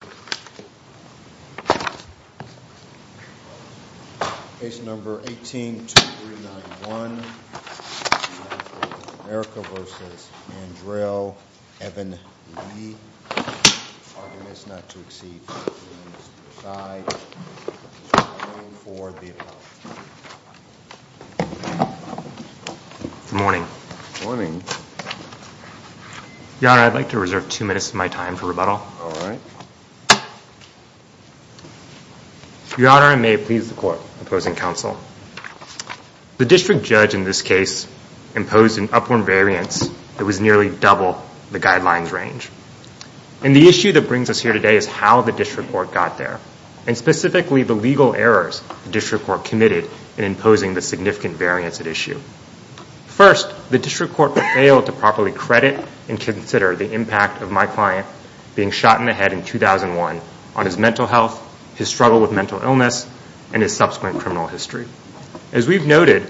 Argument is not to exceed the limits of the side, and so I am voting for the apology. Good morning. Good morning. Your Honor, I'd like to reserve two minutes of my time for rebuttal. All right. Your Honor, I may please the court. Opposing counsel. The district judge in this case imposed an upward variance that was nearly double the guidelines range. And the issue that brings us here today is how the district court got there, and specifically the legal errors the district court committed in imposing the significant variance at issue. First, the district court failed to properly credit and consider the impact of my client being shot in the head in 2001 on his mental health, his struggle with mental illness, and his subsequent criminal history. As we've noted,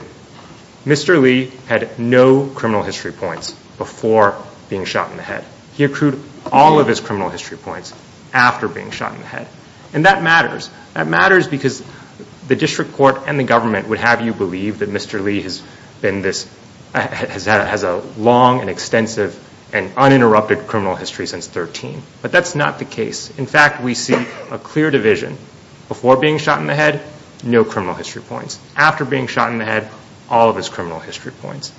Mr. Lee had no criminal history points before being shot in the head. He accrued all of his criminal history points after being shot in the head. And that matters. That matters because the district court and the government would have you believe that Mr. Lee has been this, has a long and extensive and uninterrupted criminal history since 13. But that's not the case. In fact, we see a clear division. Before being shot in the head, no criminal history points. After being shot in the head, all of his criminal history points.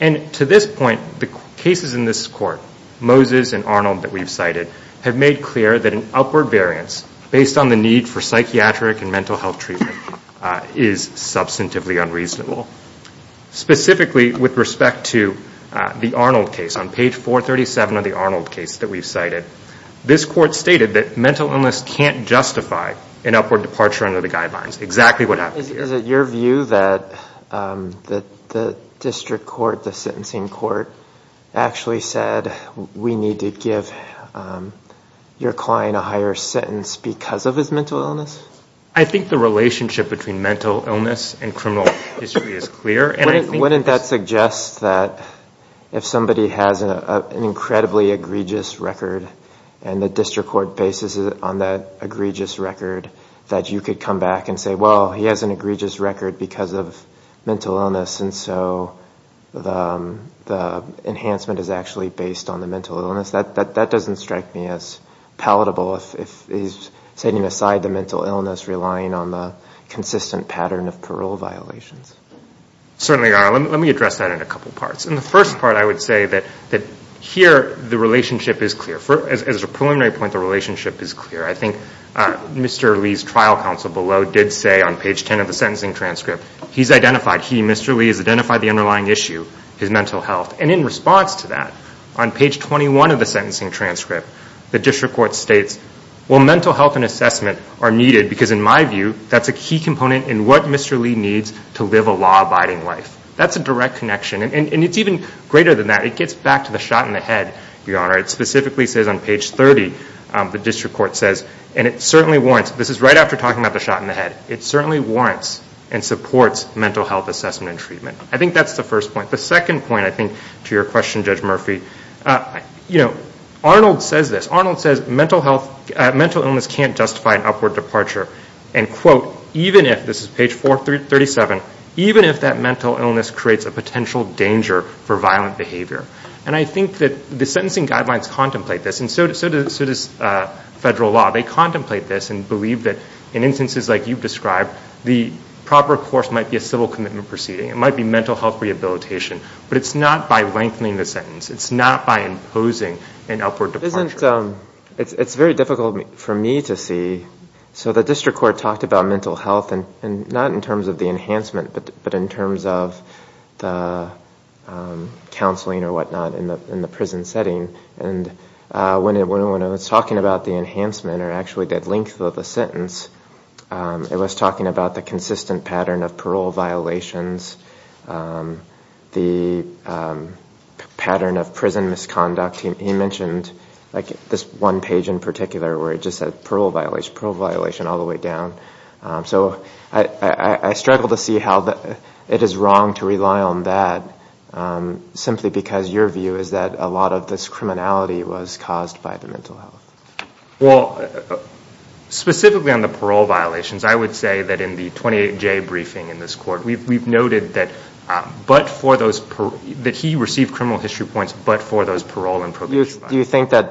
And to this point, the cases in this court, Moses and Arnold that we've cited, have made clear that an upward variance based on the need for psychiatric and mental health treatment is substantively unreasonable. Specifically, with respect to the Arnold case, on page 437 of the Arnold case that we've cited, this court stated that mental illness can't justify an upward departure under the guidelines. Exactly what happened here. Is it your view that the district court, the sentencing court, actually said we need to give your client a higher sentence because of his mental illness? I think the relationship between mental illness and criminal history is clear. Wouldn't that suggest that if somebody has an incredibly egregious record and the district court bases it on that egregious record, that you could come back and say, well, he has an egregious record because of mental illness and so the enhancement is actually based on the mental illness. That doesn't strike me as palatable if he's setting aside the mental illness, relying on the consistent pattern of parole violations. Certainly, let me address that in a couple parts. In the first part, I would say that here, the relationship is clear. As a preliminary point, the relationship is clear. I think Mr. Lee's trial counsel below did say on page 10 of the sentencing transcript, he's identified, he, Mr. Lee, has identified the underlying issue, his mental health. And in response to that, on page 21 of the sentencing transcript, the district court states, well, mental health and assessment are needed because, in my view, that's a key component in what Mr. Lee needs to live a law-abiding life. That's a direct connection. And it's even greater than that. It gets back to the shot in the head, Your Honor. It specifically says on page 30, the district court says, and it certainly warrants, this is right after talking about the shot in the head, it certainly warrants and supports mental health assessment and treatment. I think that's the first point. The second point, I think, to your question, Judge Murphy, you know, Arnold says this. Arnold says mental illness can't justify an upward departure. And, quote, even if, this is page 437, even if that mental illness creates a potential danger for violent behavior. And I think that the sentencing guidelines contemplate this, and so does federal law. They contemplate this and believe that, in instances like you've described, the proper course might be a civil commitment proceeding. It might be mental health rehabilitation. But it's not by lengthening the sentence. It's not by imposing an upward departure. It's very difficult for me to see. So the district court talked about mental health, and not in terms of the enhancement, but in terms of the counseling or whatnot in the prison setting. And when it was talking about the enhancement or actually the length of the sentence, it was talking about the consistent pattern of parole violations, the pattern of prison misconduct. He mentioned, like, this one page in particular where it just said parole violation, parole violation all the way down. So I struggle to see how it is wrong to rely on that, simply because your view is that a lot of this criminality was caused by the mental health. Well, specifically on the parole violations, I would say that in the 28J briefing in this court, we've noted that he received criminal history points but for those parole and probation violations. Do you think that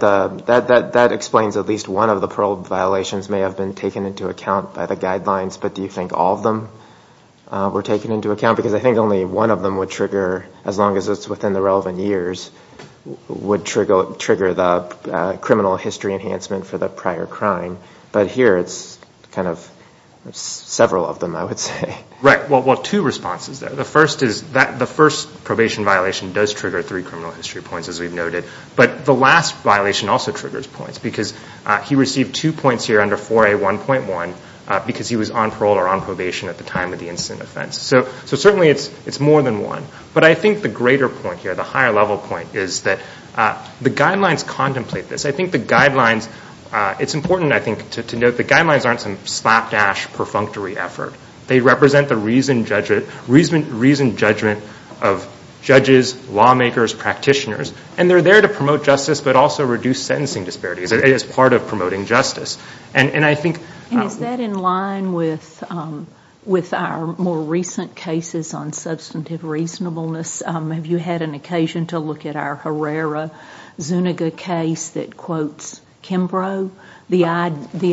that explains at least one of the parole violations may have been taken into account by the guidelines, but do you think all of them were taken into account? Because I think only one of them would trigger, as long as it's within the relevant years, would trigger the criminal history enhancement for the prior crime. But here it's kind of several of them, I would say. Right. Well, two responses there. The first is that the first probation violation does trigger three criminal history points, as we've noted, but the last violation also triggers points because he received two points here under 4A1.1 because he was on parole or on probation at the time of the incident offense. So certainly it's more than one. But I think the greater point here, the higher level point, is that the guidelines contemplate this. I think the guidelines, it's important, I think, to note the guidelines aren't some slapdash perfunctory effort. They represent the reasoned judgment of judges, lawmakers, practitioners, and they're there to promote justice but also reduce sentencing disparities. It is part of promoting justice. And I think – And is that in line with our more recent cases on substantive reasonableness? Have you had an occasion to look at our Herrera Zuniga case that quotes Kimbrough? The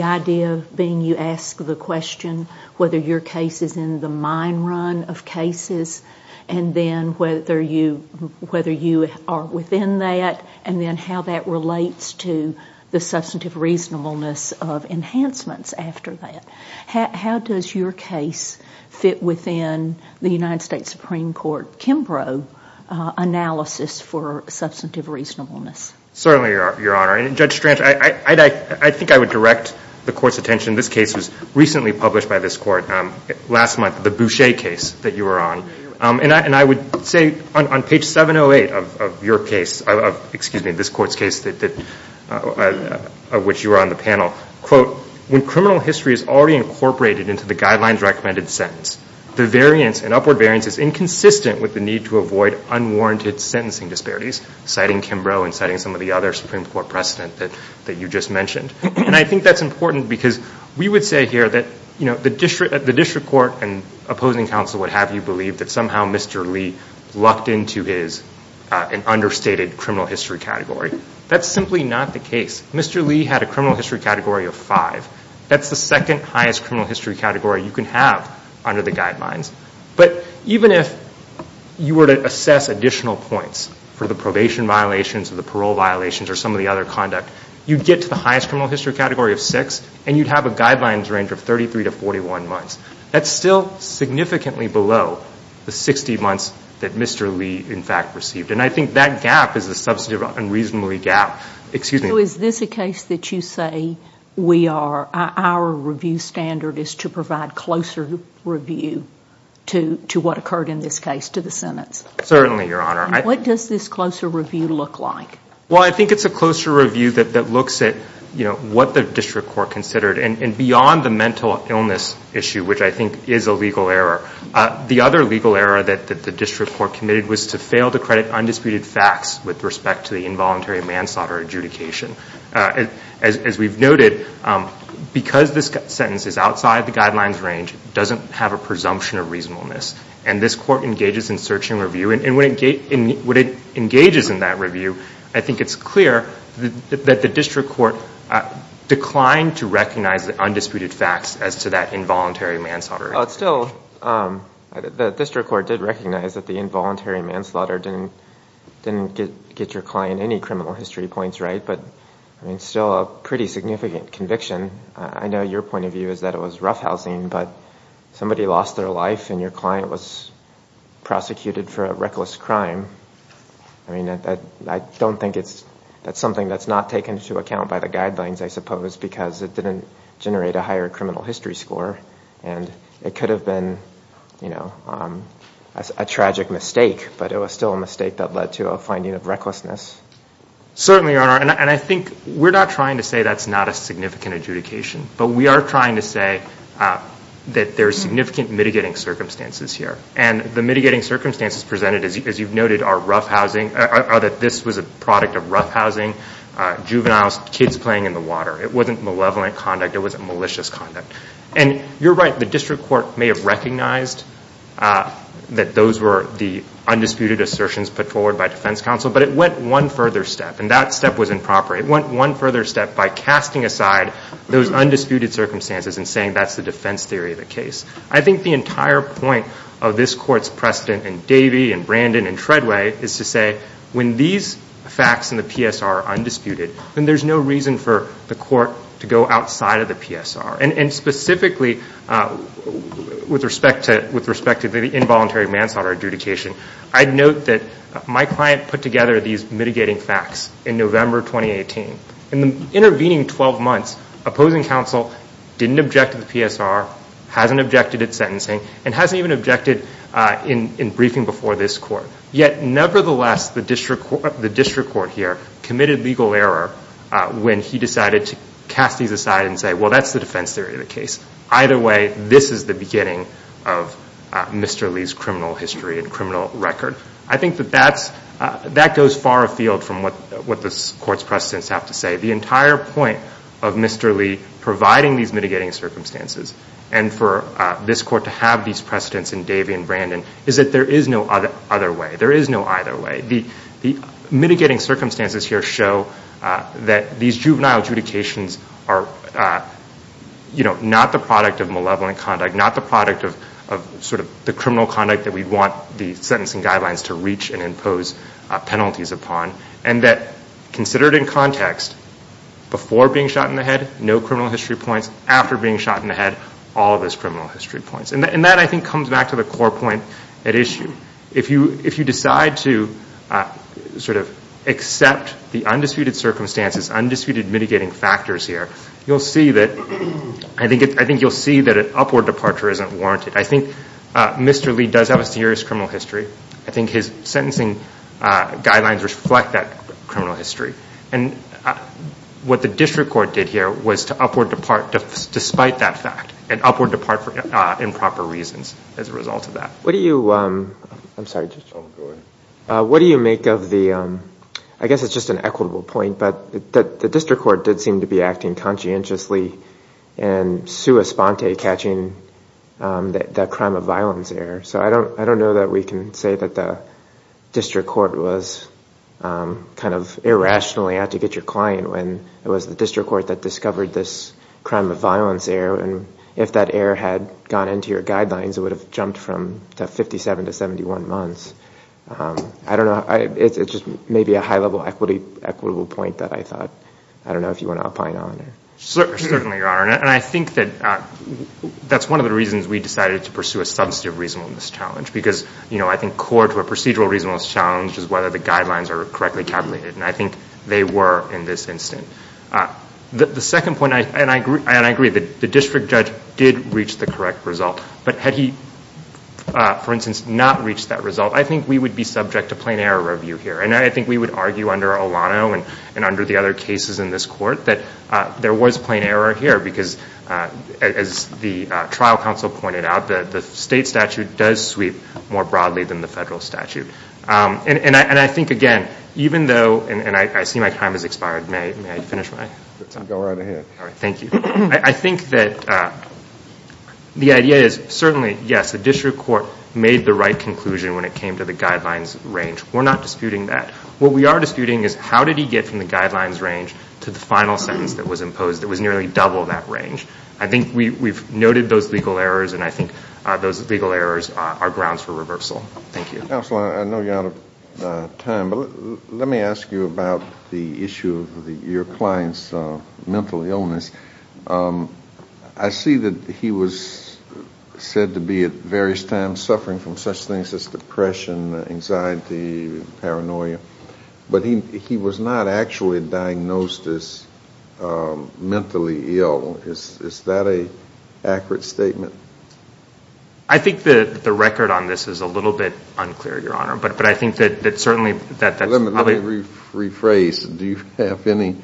idea being you ask the question whether your case is in the mine run of cases and then whether you are within that and then how that relates to the substantive reasonableness of enhancements after that. How does your case fit within the United States Supreme Court Kimbrough analysis for substantive reasonableness? Certainly, Your Honor. And Judge Strang, I think I would direct the Court's attention. This case was recently published by this Court last month, the Boucher case that you were on. And I would say on page 708 of your case – excuse me, this Court's case of which you were on the panel, quote, when criminal history is already incorporated into the guidelines recommended sentence, the variance and upward variance is inconsistent with the need to avoid unwarranted sentencing disparities, citing Kimbrough and citing some of the other Supreme Court precedent that you just mentioned. And I think that's important because we would say here that, you know, the District Court and opposing counsel would have you believe that somehow Mr. Lee lucked into his understated criminal history category. That's simply not the case. Mr. Lee had a criminal history category of five. That's the second highest criminal history category you can have under the guidelines. But even if you were to assess additional points for the probation violations or the parole violations or some of the other conduct, you'd get to the highest criminal history category of six and you'd have a guidelines range of 33 to 41 months. That's still significantly below the 60 months that Mr. Lee, in fact, received. And I think that gap is a substantive and reasonably gap. Excuse me. So is this a case that you say we are, our review standard is to provide closer review to what occurred in this case to the Senate? Certainly, Your Honor. What does this closer review look like? Well, I think it's a closer review that looks at, you know, what the District Court considered and beyond the mental illness issue, which I think is a legal error. The other legal error that the District Court committed was to fail to credit undisputed facts with respect to the involuntary manslaughter adjudication. As we've noted, because this sentence is outside the guidelines range, it doesn't have a presumption of reasonableness. And this Court engages in search and review, and when it engages in that review, I think it's clear that the District Court declined to recognize the undisputed facts as to that involuntary manslaughter. Still, the District Court did recognize that the involuntary manslaughter didn't get your client any criminal history points right, but it's still a pretty significant conviction. I know your point of view is that it was roughhousing, but somebody lost their life and your client was prosecuted for a reckless crime. I mean, I don't think it's, that's something that's not taken into account by the guidelines, I suppose, because it didn't generate a higher criminal history score. And it could have been, you know, a tragic mistake, but it was still a mistake that led to a finding of recklessness. Certainly, Your Honor, and I think we're not trying to say that's not a significant adjudication, but we are trying to say that there are significant mitigating circumstances here. And the mitigating circumstances presented, as you've noted, are roughhousing, or that this was a product of roughhousing, juveniles, kids playing in the water. It wasn't malevolent conduct. It wasn't malicious conduct. And you're right, the district court may have recognized that those were the undisputed assertions put forward by defense counsel, but it went one further step, and that step was improper. It went one further step by casting aside those undisputed circumstances and saying that's the defense theory of the case. I think the entire point of this Court's precedent in Davey and Brandon and Treadway is to say when these facts in the PSR are undisputed, then there's no reason for the court to go outside of the PSR. And specifically with respect to the involuntary manslaughter adjudication, I'd note that my client put together these mitigating facts in November 2018. In the intervening 12 months, opposing counsel didn't object to the PSR, hasn't objected at sentencing, and hasn't even objected in briefing before this Court. Yet nevertheless, the district court here committed legal error when he decided to cast these aside and say, well, that's the defense theory of the case. Either way, this is the beginning of Mr. Lee's criminal history and criminal record. I think that that goes far afield from what this Court's precedents have to say. The entire point of Mr. Lee providing these mitigating circumstances and for this Court to have these precedents in Davey and Brandon is that there is no other way. There is no either way. The mitigating circumstances here show that these juvenile adjudications are not the product of malevolent conduct, not the product of the criminal conduct that we want the sentencing guidelines to reach and impose penalties upon, and that considered in context, before being shot in the head, no criminal history points. After being shot in the head, all of those criminal history points. And that, I think, comes back to the core point at issue. If you decide to accept the undisputed circumstances, undisputed mitigating factors here, you'll see that an upward departure isn't warranted. I think Mr. Lee does have a serious criminal history. I think his sentencing guidelines reflect that criminal history. And what the district court did here was to upward depart despite that fact and upward depart for improper reasons as a result of that. What do you make of the, I guess it's just an equitable point, but the district court did seem to be acting conscientiously and sua sponte catching that crime of violence error. So I don't know that we can say that the district court was kind of irrationally out to get your client when it was the district court that discovered this crime of violence error. And if that error had gone into your guidelines, it would have jumped from 57 to 71 months. I don't know. It's just maybe a high-level equitable point that I thought. I don't know if you want to opine on it. Certainly, Your Honor. And I think that that's one of the reasons we decided to pursue a substantive reasonableness challenge because I think core to a procedural reasonableness challenge is whether the guidelines are correctly tabulated. And I think they were in this instance. The second point, and I agree that the district judge did reach the correct result, but had he, for instance, not reached that result, I think we would be subject to plain error review here. And I think we would argue under Olano and under the other cases in this court that there was plain error here because, as the trial counsel pointed out, the state statute does sweep more broadly than the federal statute. And I think, again, even though, and I see my time has expired. May I finish my time? Go right ahead. All right. Thank you. I think that the idea is certainly, yes, the district court made the right conclusion when it came to the guidelines range. We're not disputing that. What we are disputing is how did he get from the guidelines range to the final sentence that was imposed that was nearly double that range. I think we've noted those legal errors, and I think those legal errors are grounds for reversal. Thank you. Counsel, I know you're out of time, but let me ask you about the issue of your client's mental illness. I see that he was said to be at various times suffering from such things as depression, anxiety, paranoia, but he was not actually diagnosed as mentally ill. Is that an accurate statement? I think the record on this is a little bit unclear, Your Honor, but I think that certainly that's probably Let me rephrase. Do you have any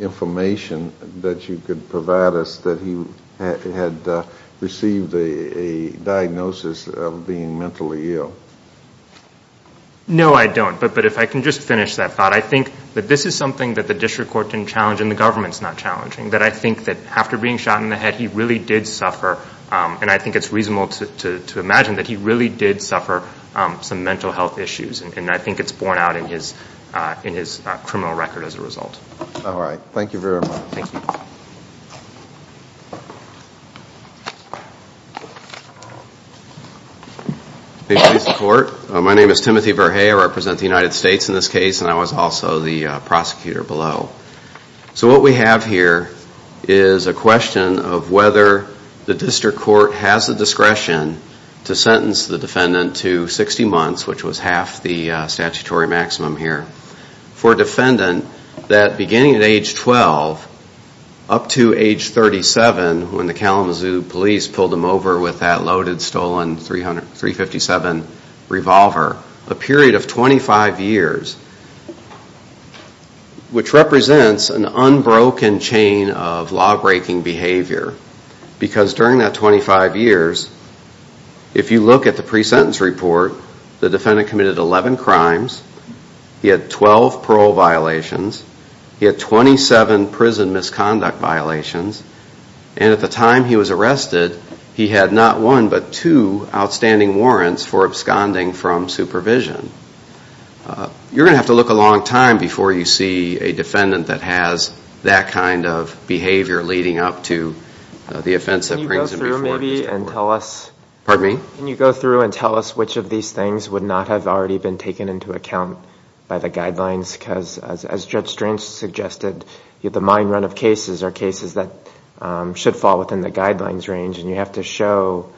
information that you could provide us that he had received a diagnosis of being mentally ill? No, I don't. But if I can just finish that thought, I think that this is something that the district court can challenge and the government's not challenging, that I think that after being shot in the head, that he really did suffer, and I think it's reasonable to imagine that he really did suffer some mental health issues, and I think it's borne out in his criminal record as a result. All right. Thank you very much. Thank you. My name is Timothy Verhea. I represent the United States in this case, and I was also the prosecutor below. So what we have here is a question of whether the district court has the discretion to sentence the defendant to 60 months, which was half the statutory maximum here, for a defendant that, beginning at age 12, up to age 37, when the Kalamazoo police pulled him over with that loaded, stolen .357 revolver, a period of 25 years, which represents an unbroken chain of law-breaking behavior, because during that 25 years, if you look at the pre-sentence report, the defendant committed 11 crimes. He had 12 parole violations. He had 27 prison misconduct violations, and at the time he was arrested, he had not one but two outstanding warrants for absconding from supervision. You're going to have to look a long time before you see a defendant that has that kind of behavior leading up to the offense that brings him before the district court. Pardon me? Can you go through and tell us which of these things would not have already been taken into account by the guidelines? Because as Judge Strang suggested, the mine run of cases are cases that should fall within the guidelines range, and you have to show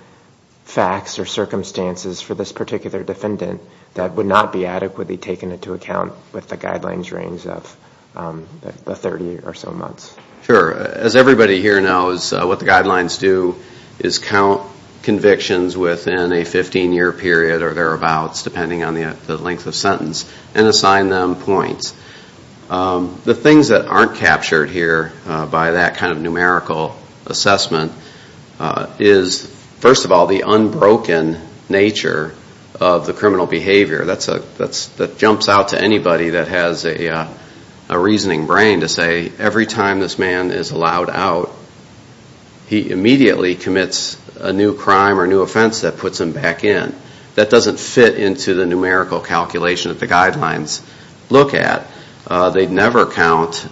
facts or circumstances for this particular defendant that would not be adequately taken into account with the guidelines range of the 30 or so months. Sure. As everybody here knows, what the guidelines do is count convictions within a 15-year period or thereabouts, depending on the length of sentence, and assign them points. The things that aren't captured here by that kind of numerical assessment is, first of all, the unbroken nature of the criminal behavior. That jumps out to anybody that has a reasoning brain to say every time this man is allowed out, he immediately commits a new crime or new offense that puts him back in. That doesn't fit into the numerical calculation that the guidelines look at. They never count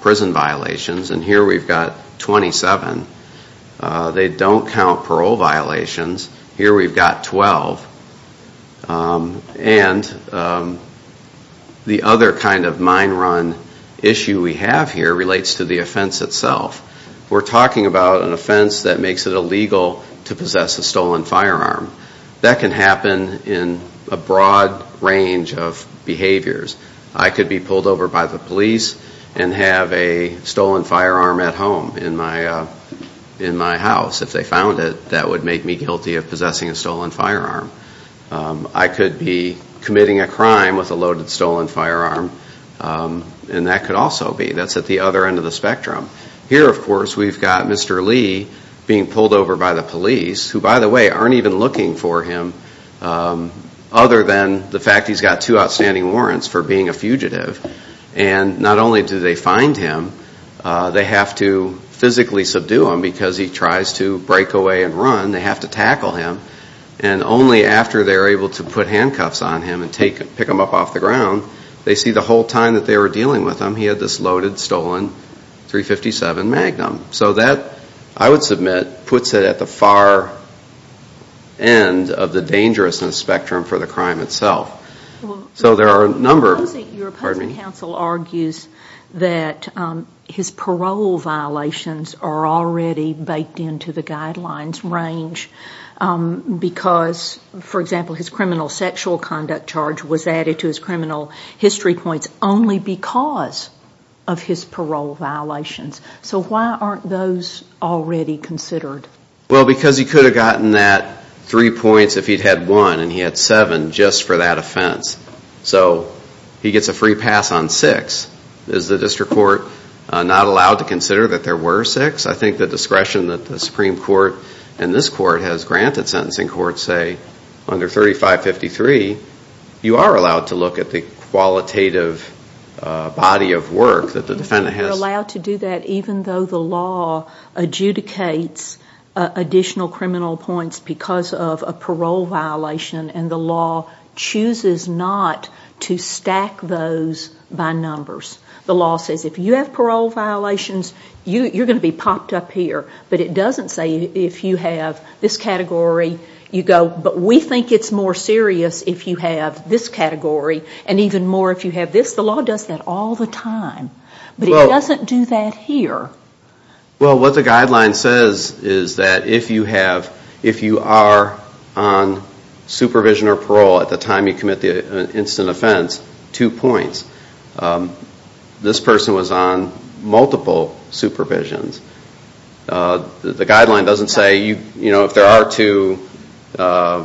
prison violations, and here we've got 27. They don't count parole violations. Here we've got 12. And the other kind of mine run issue we have here relates to the offense itself. We're talking about an offense that makes it illegal to possess a stolen firearm. That can happen in a broad range of behaviors. I could be pulled over by the police and have a stolen firearm at home in my house. If they found it, that would make me guilty of possessing a stolen firearm. I could be committing a crime with a loaded stolen firearm, and that could also be. That's at the other end of the spectrum. Here, of course, we've got Mr. Lee being pulled over by the police who, by the way, aren't even looking for him other than the fact he's got two outstanding warrants for being a fugitive. And not only do they find him, they have to physically subdue him because he tries to break away and run. They have to tackle him. And only after they're able to put handcuffs on him and pick him up off the ground, they see the whole time that they were dealing with him, he had this loaded stolen .357 Magnum. So that, I would submit, puts it at the far end of the dangerousness spectrum for the crime itself. So there are a number. Your opposing counsel argues that his parole violations are already baked into the guidelines range because, for example, his criminal sexual conduct charge was added to his criminal history points only because of his parole violations. So why aren't those already considered? Well, because he could have gotten that three points if he'd had one, and he had seven just for that offense. So he gets a free pass on six. Is the district court not allowed to consider that there were six? I think the discretion that the Supreme Court and this court has granted sentencing courts say under 3553, you are allowed to look at the qualitative body of work that the defendant has. You're allowed to do that even though the law adjudicates additional criminal points because of a parole violation, and the law chooses not to stack those by numbers. The law says if you have parole violations, you're going to be popped up here, but it doesn't say if you have this category, you go, but we think it's more serious if you have this category and even more if you have this. The law does that all the time, but it doesn't do that here. Well, what the guideline says is that if you are on supervision or parole at the time you commit the incident offense, two points. This person was on multiple supervisions. The guideline doesn't say if there are two,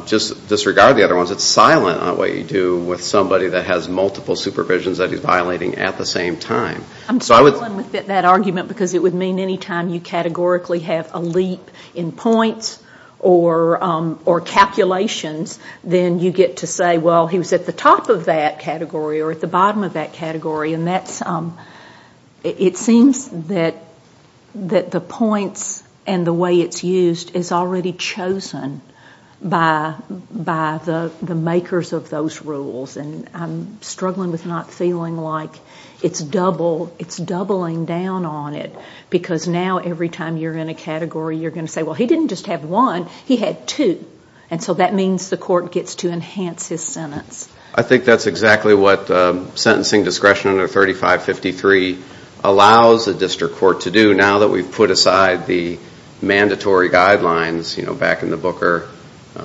just disregard the other ones. It's silent on what you do with somebody that has multiple supervisions that he's violating at the same time. I'm struggling with that argument because it would mean anytime you categorically have a leap in points or calculations, then you get to say, well, he was at the top of that category or at the bottom of that category, and it seems that the points and the way it's used is already chosen by the makers of those rules, and I'm struggling with not feeling like it's doubling down on it because now every time you're in a category, you're going to say, well, he didn't just have one, he had two, and so that means the court gets to enhance his sentence. I think that's exactly what sentencing discretion under 3553 allows the district court to do. Now that we've put aside the mandatory guidelines, you know, back in the Booker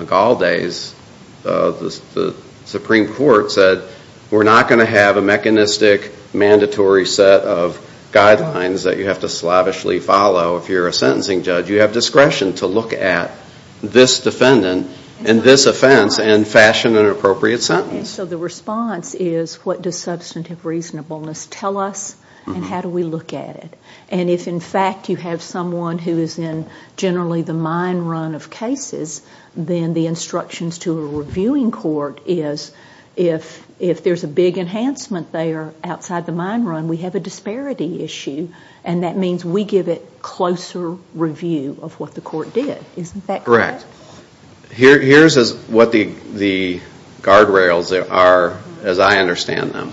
Gall days, the Supreme Court said we're not going to have a mechanistic mandatory set of guidelines that you have to slavishly follow. So if you're a sentencing judge, you have discretion to look at this defendant and this offense and fashion an appropriate sentence. So the response is what does substantive reasonableness tell us and how do we look at it? And if in fact you have someone who is in generally the mine run of cases, then the instructions to a reviewing court is if there's a big enhancement there outside the mine run, we have a disparity issue, and that means we give it closer review of what the court did. Isn't that correct? Correct. Here's what the guardrails are as I understand them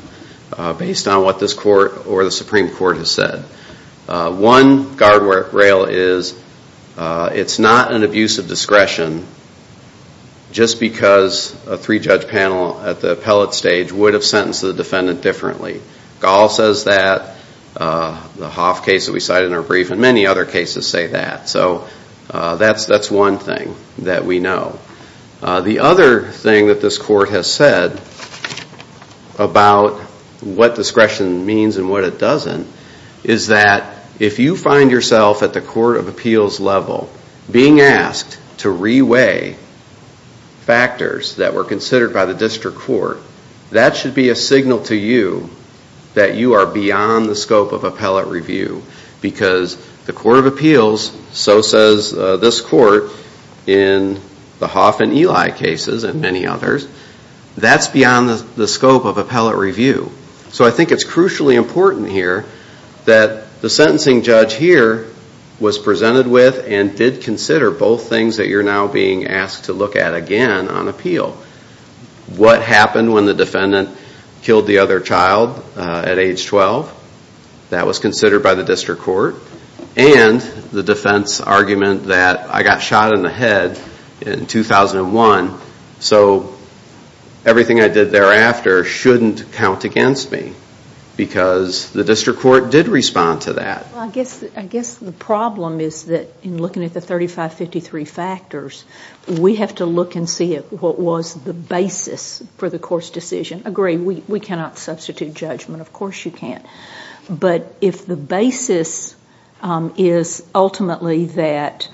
based on what this court or the Supreme Court has said. One guardrail is it's not an abuse of discretion just because a three-judge panel at the appellate stage would have sentenced the defendant differently. Gall says that, the Hoff case that we cited in our brief, and many other cases say that. So that's one thing that we know. The other thing that this court has said about what discretion means and what it doesn't is that if you find yourself at the court of appeals level being asked to reweigh factors that were considered by the district court, that should be a signal to you that you are beyond the scope of appellate review because the court of appeals, so says this court in the Hoff and Eli cases and many others, that's beyond the scope of appellate review. So I think it's crucially important here that the sentencing judge here was presented with and did consider both things that you're now being asked to look at again on appeal. What happened when the defendant killed the other child at age 12? That was considered by the district court. And the defense argument that I got shot in the head in 2001, so everything I did thereafter shouldn't count against me because the district court did respond to that. Well, I guess the problem is that in looking at the 3553 factors, we have to look and see what was the basis for the court's decision. Agree, we cannot substitute judgment. Of course you can't. But if the basis is ultimately that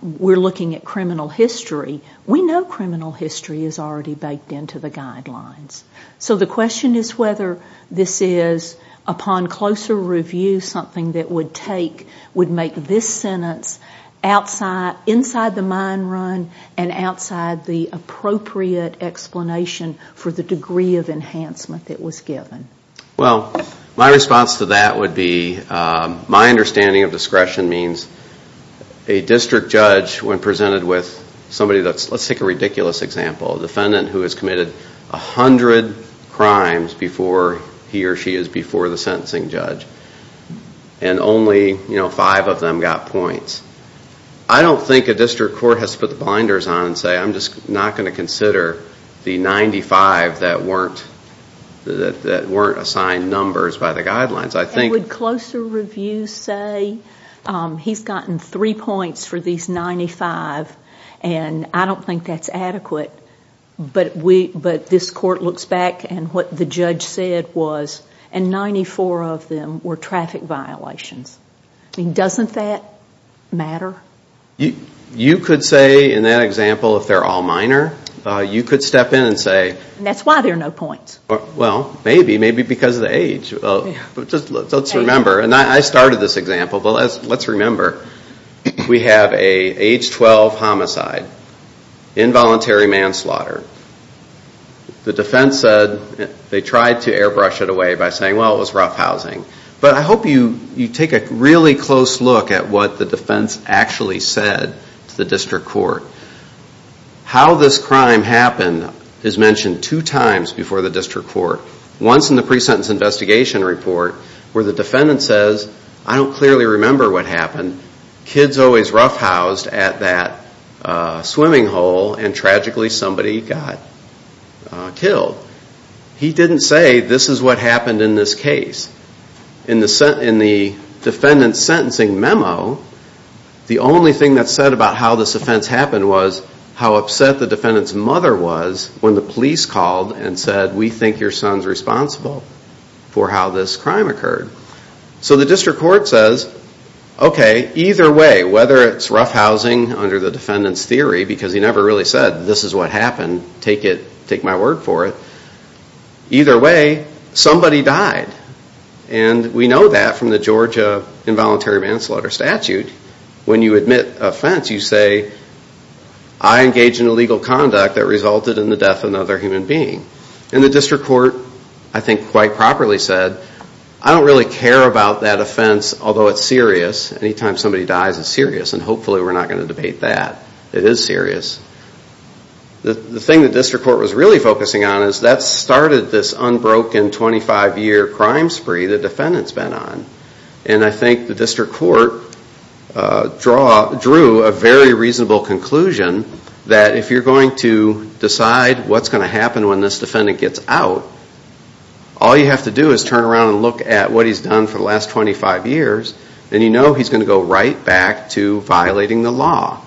we're looking at criminal history, we know criminal history is already baked into the guidelines. So the question is whether this is, upon closer review, something that would make this sentence inside the mine run and outside the appropriate explanation for the degree of enhancement that was given. Well, my response to that would be my understanding of discretion means a district judge, when presented with somebody that's, let's take a ridiculous example, a defendant who has committed 100 crimes before he or she is before the sentencing judge, and only five of them got points. I don't think a district court has to put the blinders on and say, I'm just not going to consider the 95 that weren't assigned numbers by the guidelines. And would closer review say, he's gotten three points for these 95, and I don't think that's adequate, but this court looks back, and what the judge said was, and 94 of them were traffic violations. Doesn't that matter? You could say, in that example, if they're all minor, you could step in and say. And that's why there are no points. Well, maybe, maybe because of the age. Let's remember, and I started this example, but let's remember. We have an age 12 homicide, involuntary manslaughter. The defense said they tried to airbrush it away by saying, well, it was rough housing. But I hope you take a really close look at what the defense actually said to the district court. How this crime happened is mentioned two times before the district court. Once in the pre-sentence investigation report, where the defendant says, I don't clearly remember what happened. Kids always roughhoused at that swimming hole, and tragically somebody got killed. He didn't say, this is what happened in this case. In the defendant's sentencing memo, the only thing that's said about how this offense happened was how upset the defendant's mother was when the police called and said, we think your son's responsible for how this crime occurred. So the district court says, okay, either way, whether it's roughhousing under the defendant's theory, because he never really said, this is what happened, take my word for it. Either way, somebody died. And we know that from the Georgia involuntary manslaughter statute. When you admit offense, you say, I engaged in illegal conduct that resulted in the death of another human being. And the district court, I think quite properly said, I don't really care about that offense, although it's serious. Anytime somebody dies, it's serious. And hopefully we're not going to debate that. It is serious. The thing the district court was really focusing on is that started this unbroken 25-year crime spree the defendant's been on. And I think the district court drew a very reasonable conclusion that if you're going to decide what's going to happen when this defendant gets out, all you have to do is turn around and look at what he's done for the last 25 years, and you know he's going to go right back to violating the law.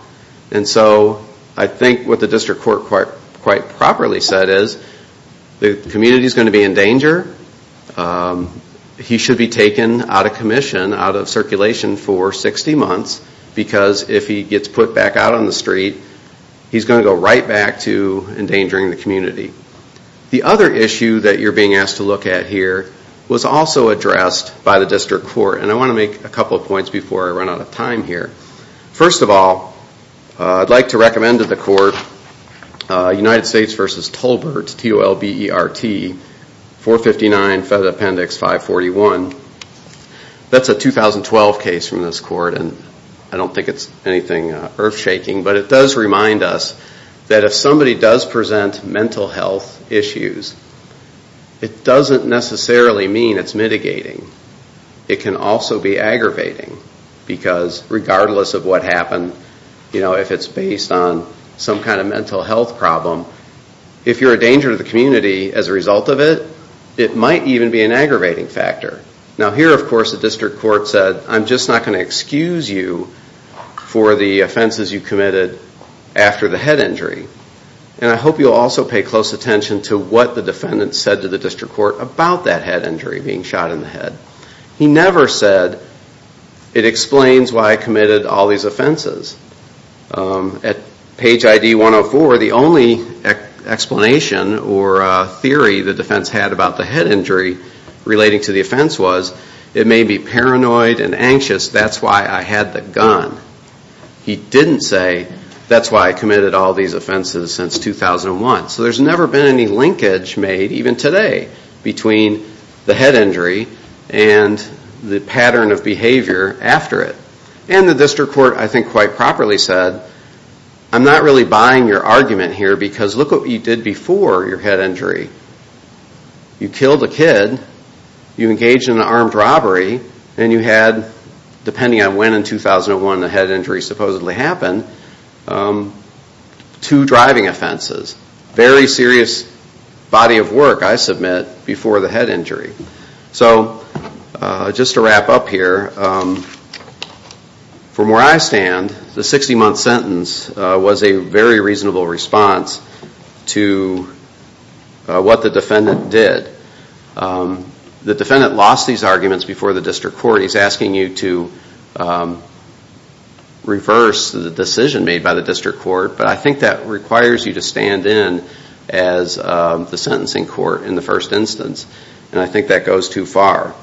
And so I think what the district court quite properly said is the community is going to be in danger. He should be taken out of commission, out of circulation for 60 months, because if he gets put back out on the street, he's going to go right back to endangering the community. The other issue that you're being asked to look at here was also addressed by the district court. And I want to make a couple of points before I run out of time here. First of all, I'd like to recommend to the court United States v. Tolbert, T-O-L-B-E-R-T, 459 Federal Appendix 541. That's a 2012 case from this court, and I don't think it's anything earth-shaking, but it does remind us that if somebody does present mental health issues, it doesn't necessarily mean it's mitigating. It can also be aggravating, because regardless of what happened, if it's based on some kind of mental health problem, if you're a danger to the community as a result of it, it might even be an aggravating factor. Now here, of course, the district court said, I'm just not going to excuse you for the offenses you committed after the head injury, and I hope you'll also pay close attention to what the defendant said to the district court about that head injury, being shot in the head. He never said, it explains why I committed all these offenses. At page ID 104, the only explanation or theory the defense had about the head injury relating to the offense was, it made me paranoid and anxious, that's why I had the gun. He didn't say, that's why I committed all these offenses since 2001. So there's never been any linkage made, even today, between the head injury and the pattern of behavior after it. And the district court, I think, quite properly said, I'm not really buying your argument here, because look what you did before your head injury. You killed a kid, you engaged in an armed robbery, and you had, depending on when in 2001 the head injury supposedly happened, two driving offenses. Very serious body of work, I submit, before the head injury. So just to wrap up here, from where I stand, the 60-month sentence was a very reasonable response to what the defendant did. The defendant lost these arguments before the district court. He's asking you to reverse the decision made by the district court, but I think that requires you to stand in as the sentencing court in the first instance. And I think that goes too far.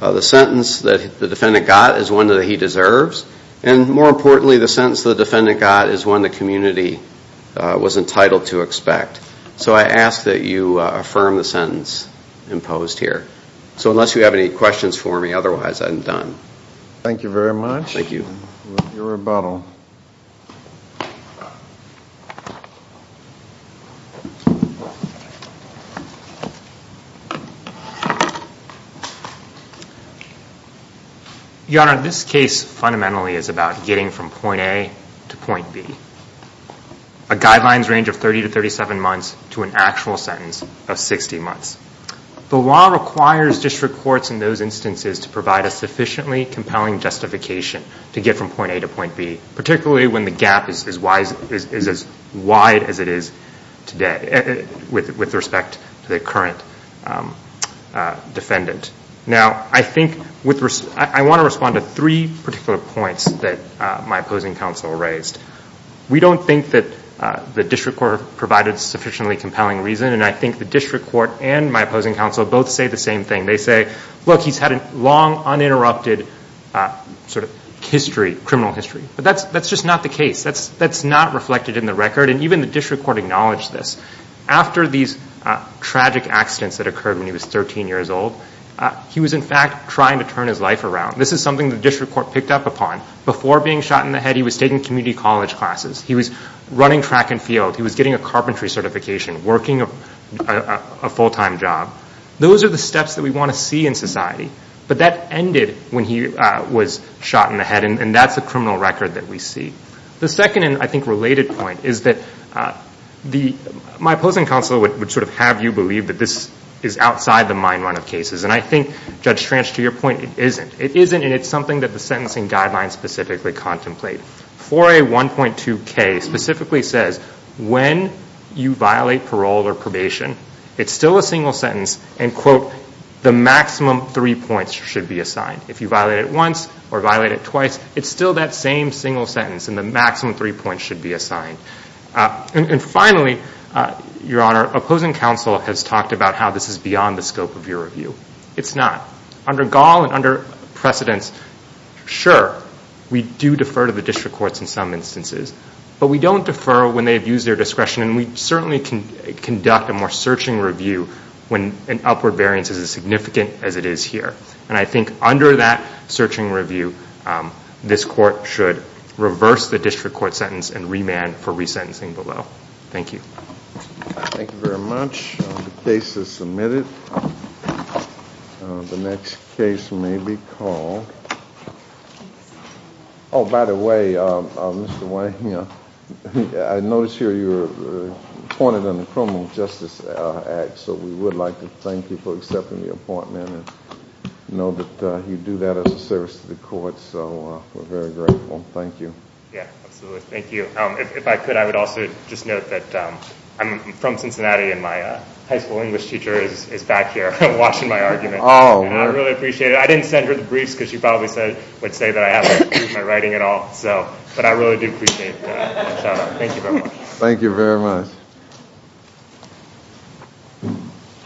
The sentence that the defendant got is one that he deserves, and more importantly, the sentence the defendant got is one the community was entitled to expect. So I ask that you affirm the sentence imposed here. So unless you have any questions for me, otherwise I'm done. Thank you very much. Thank you. Your rebuttal. Your Honor, this case fundamentally is about getting from point A to point B. A guideline's range of 30 to 37 months to an actual sentence of 60 months. The law requires district courts in those instances to provide a sufficiently compelling justification to get from point A to point B, particularly when the gap is as wide as it is today, with respect to the current defendant. Now, I want to respond to three particular points that my opposing counsel raised. We don't think that the district court provided a sufficiently compelling reason, and I think the district court and my opposing counsel both say the same thing. They say, look, he's had a long, uninterrupted sort of history, criminal history. But that's just not the case. That's not reflected in the record. And even the district court acknowledged this. After these tragic accidents that occurred when he was 13 years old, he was, in fact, trying to turn his life around. This is something the district court picked up upon. Before being shot in the head, he was taking community college classes. He was running track and field. He was getting a carpentry certification, working a full-time job. Those are the steps that we want to see in society. But that ended when he was shot in the head, and that's a criminal record that we see. The second and, I think, related point is that my opposing counsel would sort of have you believe that this is outside the mind-run of cases, and I think, Judge Schranch, to your point, it isn't. It isn't, and it's something that the sentencing guidelines specifically contemplate. 4A1.2K specifically says when you violate parole or probation, it's still a single sentence, and, quote, the maximum three points should be assigned. If you violate it once or violate it twice, it's still that same single sentence, and the maximum three points should be assigned. And finally, Your Honor, opposing counsel has talked about how this is beyond the scope of your review. It's not. Under Gall and under precedence, sure, we do defer to the district courts in some instances, but we don't defer when they've used their discretion, and we certainly can conduct a more searching review when an upward variance is as significant as it is here. And I think under that searching review, this court should reverse the district court sentence and remand for resentencing below. Thank you. Thank you very much. The case is submitted. The next case may be called. Oh, by the way, Mr. Wayne, I noticed here you were appointed on the Criminal Justice Act, so we would like to thank you for accepting the appointment and know that you do that as a service to the court, so we're very grateful. Thank you. Yeah, absolutely. Thank you. If I could, I would also just note that I'm from Cincinnati, and my high school English teacher is back here watching my argument. I really appreciate it. I didn't send her the briefs because she probably would say that I haven't improved my writing at all, but I really do appreciate that. Thank you very much. Thank you very much.